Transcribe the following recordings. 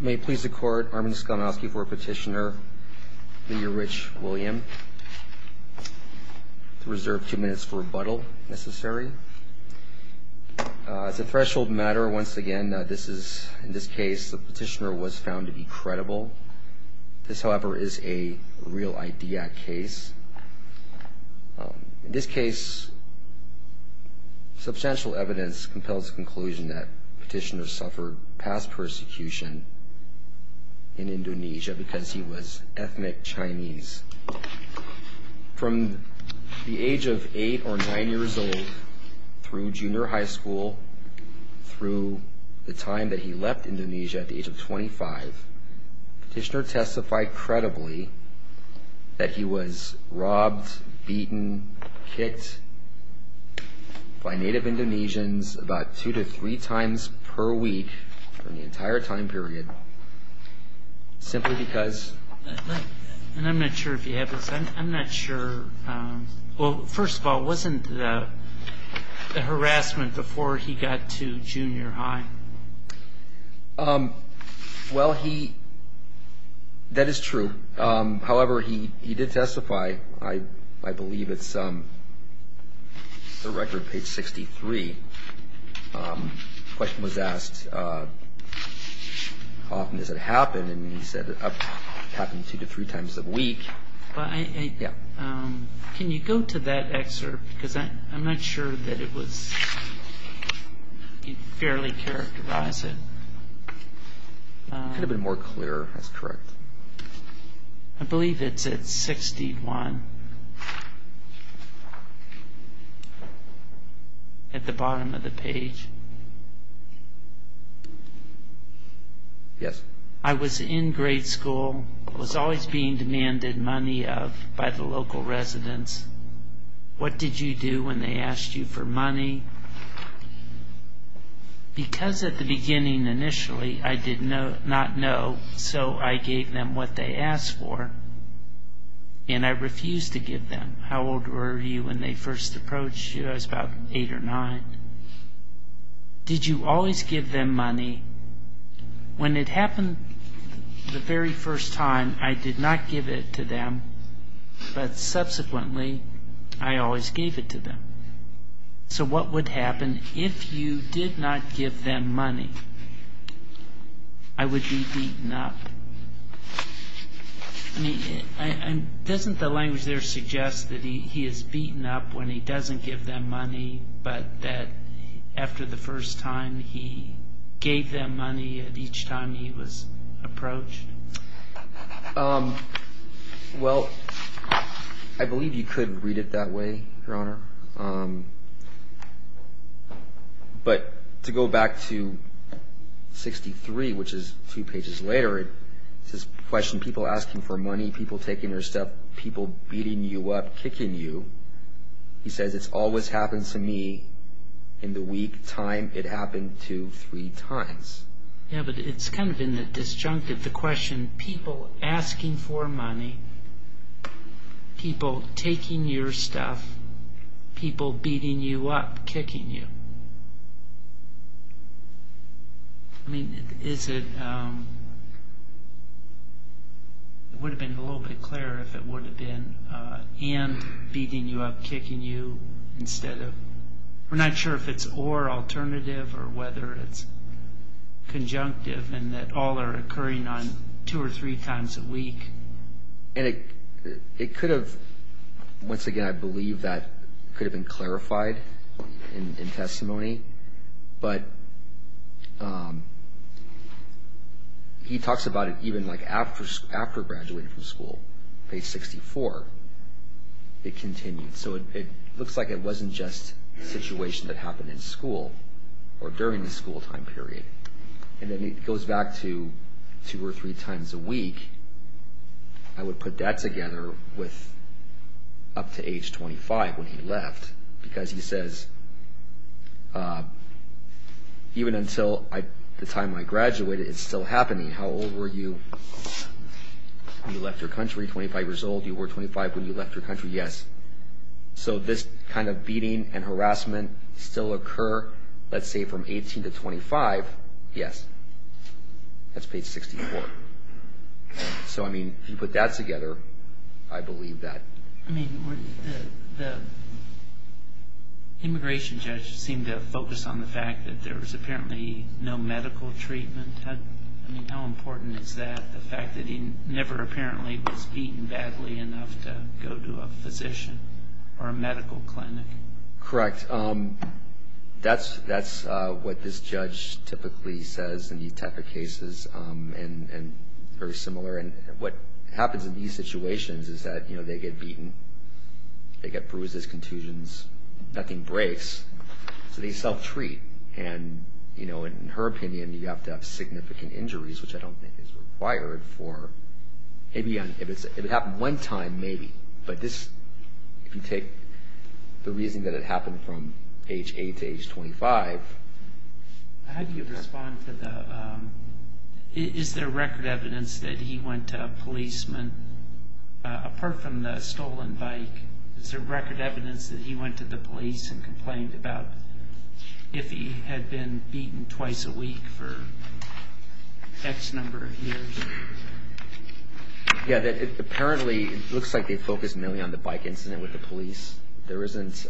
May it please the court, Armin Skolnowski for Petitioner, Leader Rich William. Reserve two minutes for rebuttal, if necessary. As a threshold matter, once again, this is, in this case, the petitioner was found to be credible. This, however, is a real ID act case. In this case, substantial evidence compels the conclusion that in Indonesia, because he was ethnic Chinese. From the age of eight or nine years old, through junior high school, through the time that he left Indonesia at the age of 25, Petitioner testified credibly that he was robbed, beaten, kicked by Native Indonesians about two to three times per week during the entire time period, simply because... And I'm not sure if you have this, I'm not sure... Well, first of all, wasn't the harassment before he got to junior high? Well, he... That is true. However, he did testify, I believe it's the record, page 63. The question was asked, how often does it happen? And he said it happened two to three times a week. Can you go to that excerpt? Because I'm not sure that it was... You can fairly characterize it. It could have been more clear. That's correct. I believe it's at 61. At the bottom of the page. Yes. I was in grade school. I was always being demanded money of by the local residents. What did you do when they asked you for money? Because at the beginning, initially, I did not know, so I gave them what they asked for, and I refused to give them. How old were you when they first approached you? I was about eight or nine. Did you always give them money? When it happened the very first time, I did not give it to them, but subsequently, I always gave it to them. So what would happen if you did not give them money? I would be beaten up. Doesn't the language there suggest that he is beaten up when he doesn't give them money, but that after the first time, he gave them money each time he was approached? Well, I believe you could read it that way, Your Honor. But to go back to page 63, which is two pages later, it says, people asking for money, people taking your stuff, people beating you up, kicking you. He says, it's always happened to me in the week time, it happened to three times. Yeah, but it's kind of in the disjunctive, the question, people asking for money, people taking your stuff, people beating you up, kicking you. I mean, is it, it would have been a little bit clearer if it would have been and beating you up, kicking you instead of, we're not sure if it's or alternative or whether it's conjunctive and that all are occurring on two or three times a week. It could have, once again, I believe that could have been clarified in testimony, but he talks about it even like after graduating from school, page 64, it continued. So it looks like it wasn't just a situation that happened in school or during the school time period. And then it goes back to two or three times a week. I would put that together with up to age 25 when he left because he says even until the time I graduated it's still happening. How old were you when you left your country, 25 years old, you were 25 when you left your country, yes. So this kind of beating and harassment still occur let's say from 18 to 25, yes. That's page 64. So I mean, if you put that together, I believe that. I mean, the immigration judge seemed to focus on the fact that there was apparently no medical treatment. How important is that? The fact that he never apparently was beaten badly enough to go to a physician or a medical clinic. Correct. That's what this judge typically says in these type of cases and very similar. And what happens in these situations is that they get beaten, they get bruises, contusions, nothing breaks, so they self-treat. And in her opinion, you have to have significant injuries, which I don't think is required for if it happened one time, maybe. But this, if you take the reason that it happened from age 8 to age 25 How do you respond to the Is there record evidence that he went to a policeman apart from the stolen bike? Is there record evidence that he went to the police and complained about if he had been beaten twice a week for X number of years? Yeah, apparently it looks like they focused mainly on the bike incident with the police. There isn't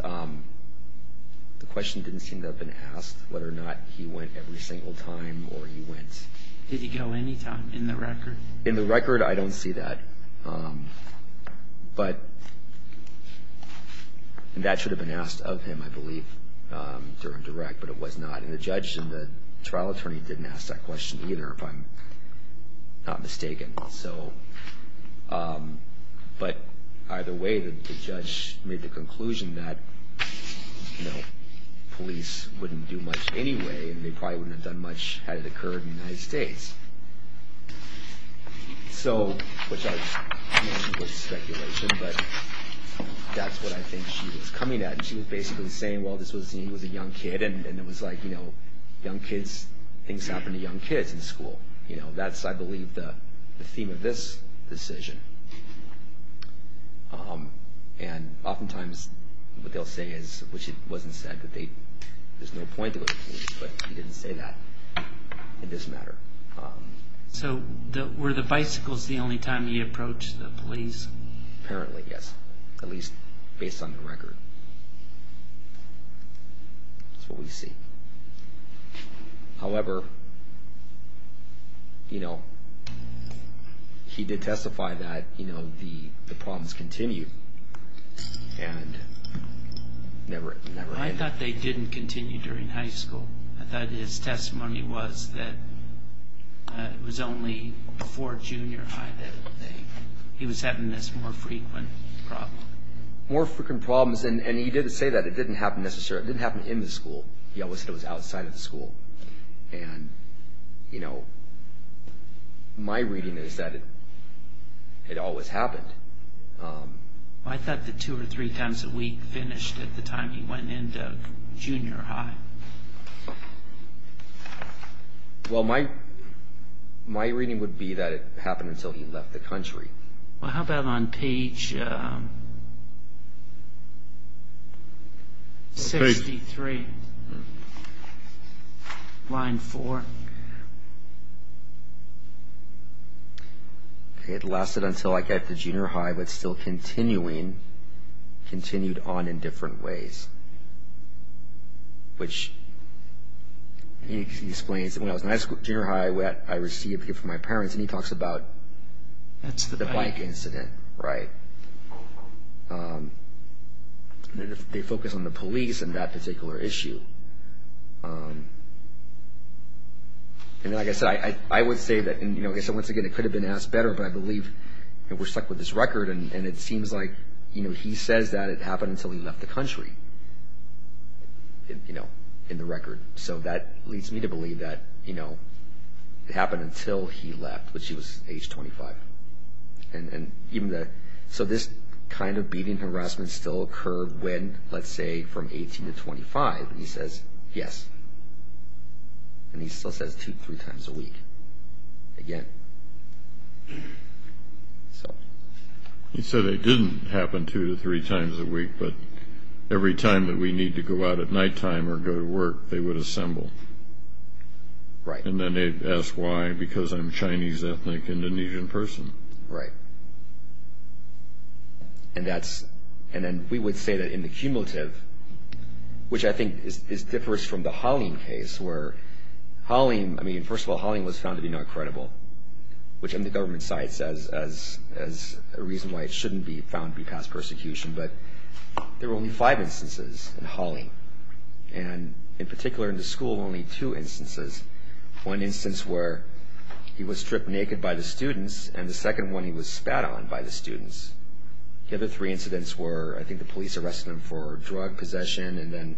the question didn't seem to have been asked whether or not he went every single time or he went Did he go any time in the record? In the record, I don't see that. That should have been asked of him, I believe during direct, but it was not. And the judge and the trial attorney didn't ask that question either if I'm not mistaken. But either way, the judge made the conclusion that police wouldn't do much anyway and they probably wouldn't have done much had it occurred in the United States. Which I assume was speculation, but that's what I think she was coming at. She was basically saying he was a young kid and things happen to young kids in school. That's, I believe, the theme of this decision. And often times what they'll say is, which it wasn't said that they there's no point to it, but he didn't say that in this matter. So were the bicycles the only time he approached the police? Apparently, yes. At least based on the record. That's what we see. However you know he did testify that the problems continued and never ended. I thought they didn't continue during high school. I thought his testimony was that it was only before junior high that he was having this more frequent problem. More frequent problems, and he didn't say that. It didn't happen necessarily. It didn't happen in the school. He always said it was outside of the school. My reading is that it always happened. I thought that two or three times a week finished at the time he went into junior high. Well, my reading would be that it happened until he left the country. Well, how about on page 63? Line 4. It lasted until I got to junior high, but it still continued on in different ways. Which he explains, when I was in junior high I received from my parents, and he talks about the bike incident. They focus on the police and that particular issue. I would say that it could have been asked better, but I believe we're stuck with this record, and it seems like he says that it happened until he left the country in the record. That leads me to believe that it happened until he left, when he was age 25. This kind of beating and harassment still occurred when, let's say, from 18 to 25, and he says, yes. And he still says two to three times a week. Again. He said it didn't happen two to three times a week, but every time that we need to go out at nighttime or go to work, they would assemble. Right. And then they'd ask why, because I'm a Chinese, ethnic, Indonesian person. Right. And then we would say that in the cumulative, which I think differs from the Halim case, where Halim, I mean, first of all, Halim was found to be not credible, which the government cites as a reason why it shouldn't be found to be past persecution, but there were only five instances in Halim, and in particular in the school only two instances. One instance where he was stripped naked by the students, and the second one he was spat on by the students. The other three incidents were, I think the police arrested him for drug possession, and then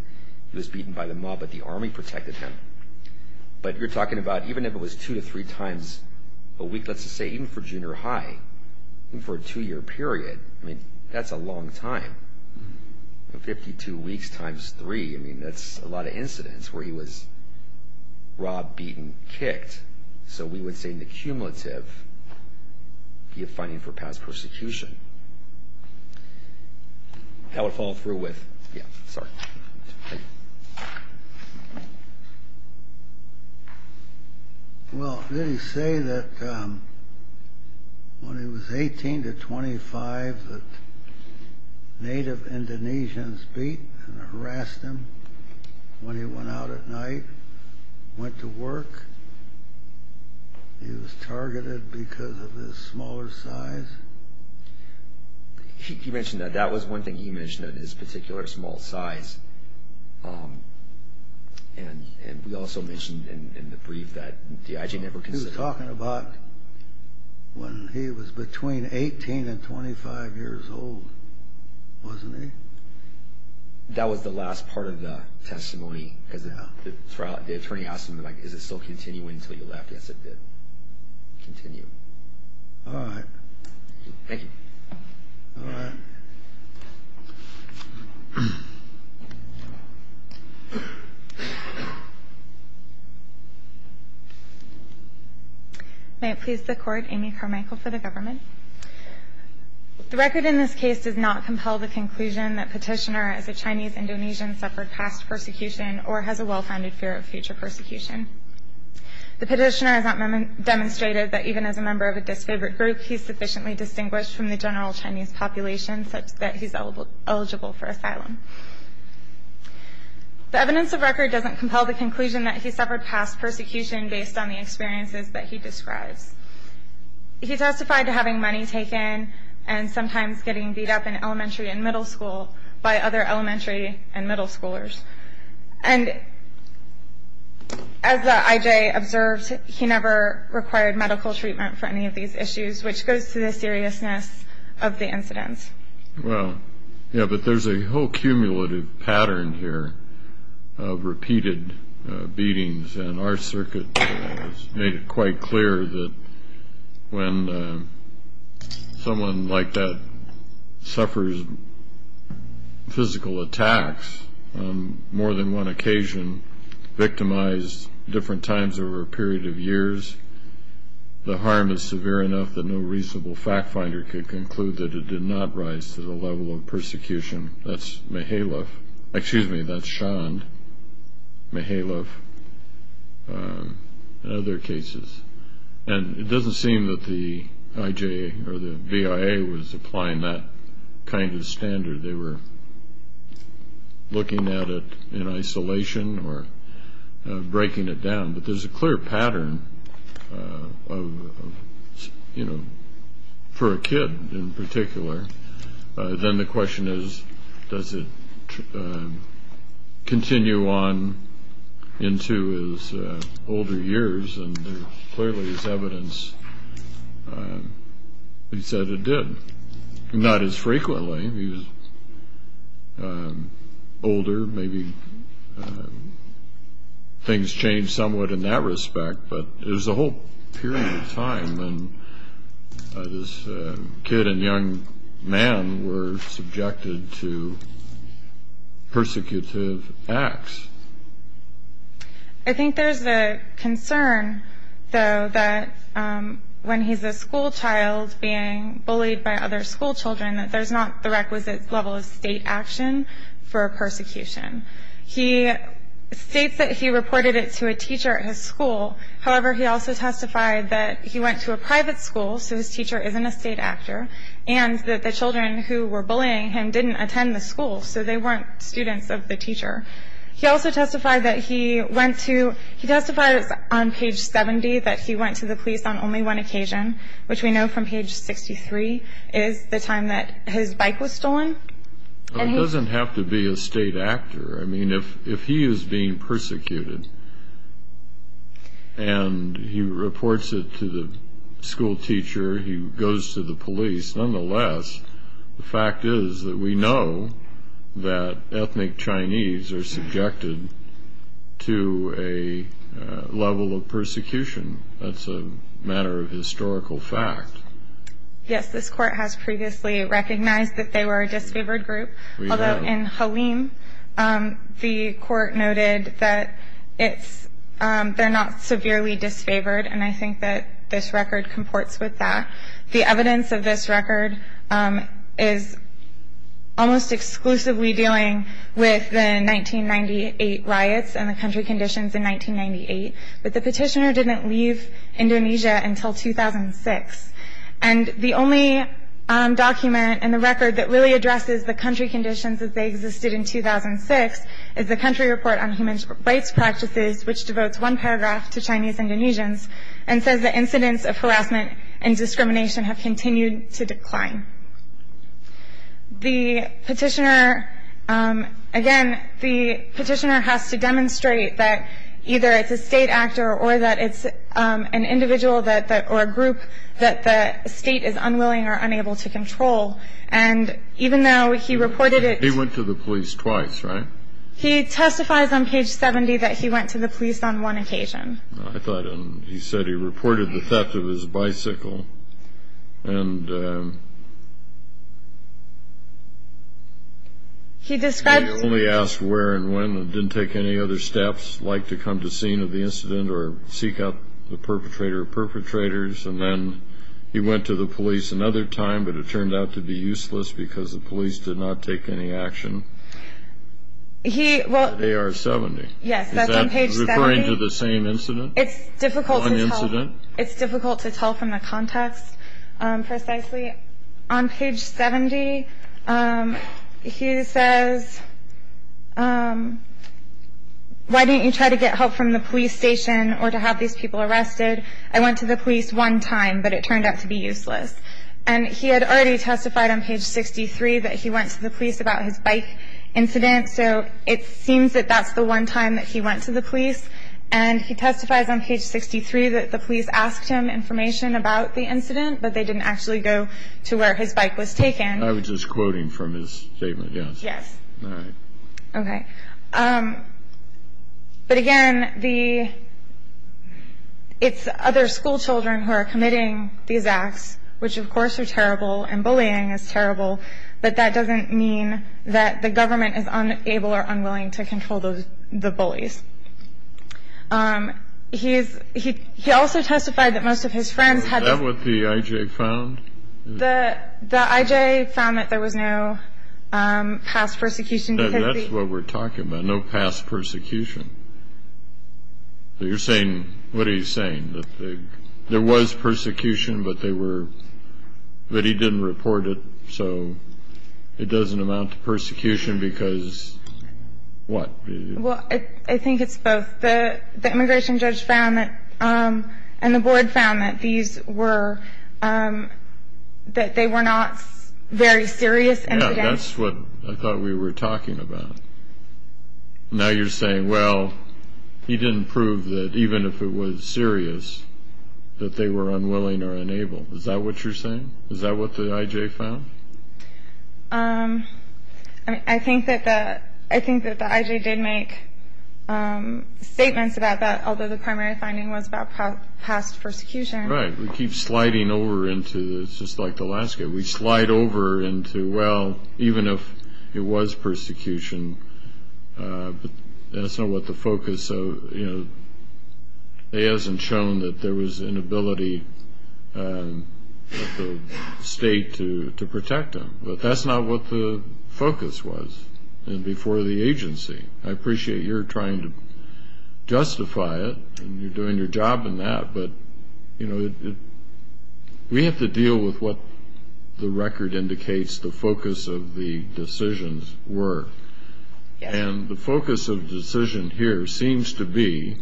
he was beaten by the mob, but the army protected him. But you're talking about, even if it was two to three times a week, let's just say, even for junior high, for a two-year period, I mean, that's a long time. Fifty-two weeks times three, I mean, that's a lot of incidents where he was so we would say in the cumulative, he was finding for past persecution. That would follow through with, yeah, sorry. Well, did he say that when he was 18 to 25 that Native Indonesians beat and harassed him when he went out at night, went to work, he was targeted because of his smaller size? He mentioned that. That was one thing he mentioned, that his particular small size. And we also mentioned in the brief that the IJ never considered... He was talking about when he was between 18 and 25 That was the last part of the testimony. The attorney asked him, is it still continuing until you're left? Yes, it did continue. Alright. Thank you. May it please the Court, Amy Carmichael for the Government. The record in this case does not compel the conclusion that Petitioner as a Chinese Indonesian suffered past persecution or has a well-founded fear of future persecution. The Petitioner has not demonstrated that even as a member of a disfavorite group, he's sufficiently distinguished from the general Chinese population such that he's eligible for asylum. The evidence of record doesn't compel the conclusion that he suffered past persecution based on the experiences that he describes. He testified to having money taken and sometimes getting beat up in elementary and middle school by other elementary and middle schoolers. And as the IJ observed, he never required medical treatment for any of these issues, which goes to the seriousness of the incidents. Yeah, but there's a whole cumulative pattern here of repeated beatings and our circuit has made it quite clear that when someone like that suffers physical attacks on more than one occasion, victimized different times over a period of years, the harm is severe enough that no reasonable fact finder could conclude that it did not rise to the level of persecution. That's Mahaloff, excuse me, that's Shand, Mahaloff and other cases. And it doesn't seem that the IJ or the BIA was applying that kind of standard. They were looking at it in isolation or breaking it down. But there's a clear pattern of, you know, for a kid in particular. Then the question is, does it continue on into his older years? And clearly there's evidence he said it did. Not as frequently. He was older, maybe things changed somewhat in that respect, but there's a whole period of time when this kid and young man were subjected to persecutive acts. I think there's a concern, though, that when he's a school child being bullied by other school children, that there's not the requisite level of state action for persecution. He states that he reported it to a teacher at his school. However, he also testified that he went to a private school, so his teacher isn't a state actor, and that the children who were bullying him didn't attend the school, so they weren't students of the teacher. He also testified that he went to, he testified on page 70 that he went to the police on only one occasion, which we know from page 63 is the time that his bike was stolen. It doesn't have to be a state actor. I mean, if he is being persecuted and he reports it to the school teacher, he goes to the police, nonetheless, the fact is that we know that ethnic Chinese are subjected to a level of persecution. That's a matter of historical fact. Yes, this court has previously recognized that they were a disfavored group, although in Halim, the court noted that they're not severely disfavored, and I think that this record is almost exclusively dealing with the 1998 riots and the country conditions in 1998, but the petitioner didn't leave Indonesia until 2006, and the only document in the record that really addresses the country conditions as they existed in 2006 is the country report on human rights practices, which devotes one paragraph to Chinese Indonesians, and says that incidents of The petitioner, again, the petitioner has to demonstrate that either it's a state actor or that it's an individual or a group that the state is unwilling or unable to control, and even though he reported it... He went to the police twice, right? He testifies on page 70 that he went to the police on one occasion. I thought he said he reported the theft of his bicycle, and... He described... He only asked where and when and didn't take any other steps, like to come to scene of the incident or seek out the perpetrator of perpetrators, and then he went to the police another time, but it turned out to be useless because the police did not take any action. He... Well... On page 70. Yes, that's on page 70. Is that referring to the same incident? It's difficult to tell from the context precisely. On page 70, he says Why didn't you try to get help from the police station or to have these people arrested? I went to the police one time, but it turned out to be useless. And he had already testified on page 63 that he went to the police about his bike incident, so it seems that that's the one time that he went to the police, and he testifies on page 63 that the police asked him information about the incident, but they didn't actually go to where his bike was taken. I was just quoting from his statement, yes. Yes. All right. Okay. But again, the... It's other school children who are committing these acts, which of course are terrible, and bullying is terrible, but that doesn't mean that the government is unable or unwilling to control the bullies. He also testified that most of his friends had... Is that what the I.J. found? The I.J. found that there was no past persecution. That's what we're talking about, no past persecution. You're saying... What are you saying? There was persecution, but they were... But he didn't report it, so it doesn't amount to persecution because... What? Well, I think it's both. The immigration judge found that... And the board found that these were... That they were not very serious... Yeah, that's what I thought we were talking about. Now you're saying, well, he didn't prove that even if it was serious that they were unwilling or unable. Is that what you're saying? Is that what the I.J. found? I think that the I.J. did make statements about that, although the primary finding was about past persecution. Right. We keep sliding over into... It's just like the last case. We slide over into, well, even if it was persecution, that's not what the focus of... It hasn't shown that there was an inability of the state to protect them. But that's not what the focus was before the agency. I appreciate you're trying to justify it, and you're doing your job in that, but we have to deal with what the record indicates the focus of the decisions were. And the focus of the decision here seems to be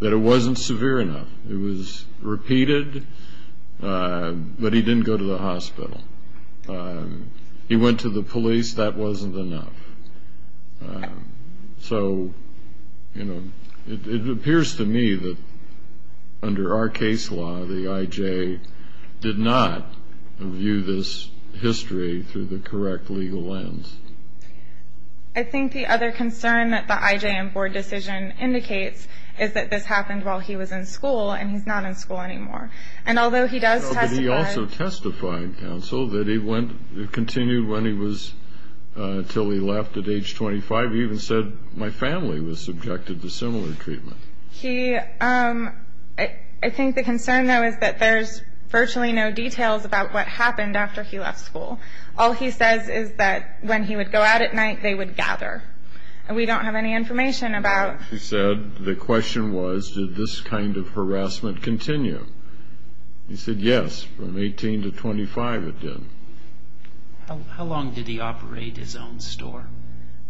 that it wasn't severe enough. It was repeated, but he didn't go to the hospital. He went to the police. That wasn't enough. So it appears to me that under our case law, the I.J. did not view this history through the correct legal lens. I think the other concern that the I.J. and board decision indicates is that this happened while he was in school, and he's not in school anymore. And although he does testify... But he also testified, counsel, that he continued until he left at age 25. He even said, my family was subjected to similar treatment. I think the concern, though, is that there's virtually no details about what happened after he left school. All he says is that when he would go out at night, they would gather. And we don't have any information about... He said the question was, did this kind of harassment continue? He said yes. From 18 to 25, it did. How long did he operate his own store?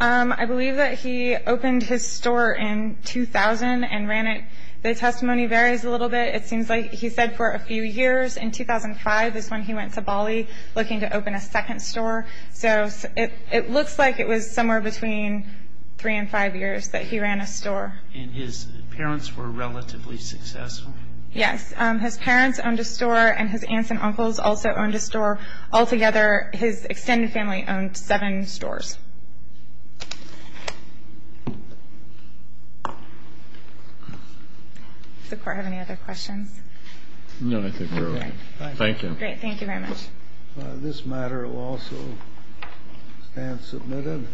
I believe that he opened his store in 2000 and ran it... The testimony varies a little bit. It seems like he said for a few years. In 2005 is when he went to Bali looking to open a second store. It looks like it was somewhere between 3 and 5 years that he ran a store. And his parents were relatively successful? Yes. His parents owned a store, and his aunts and uncles also owned a store. Altogether, his extended family owned 7 stores. Does the court have any other questions? No, I think we're all right. Thank you.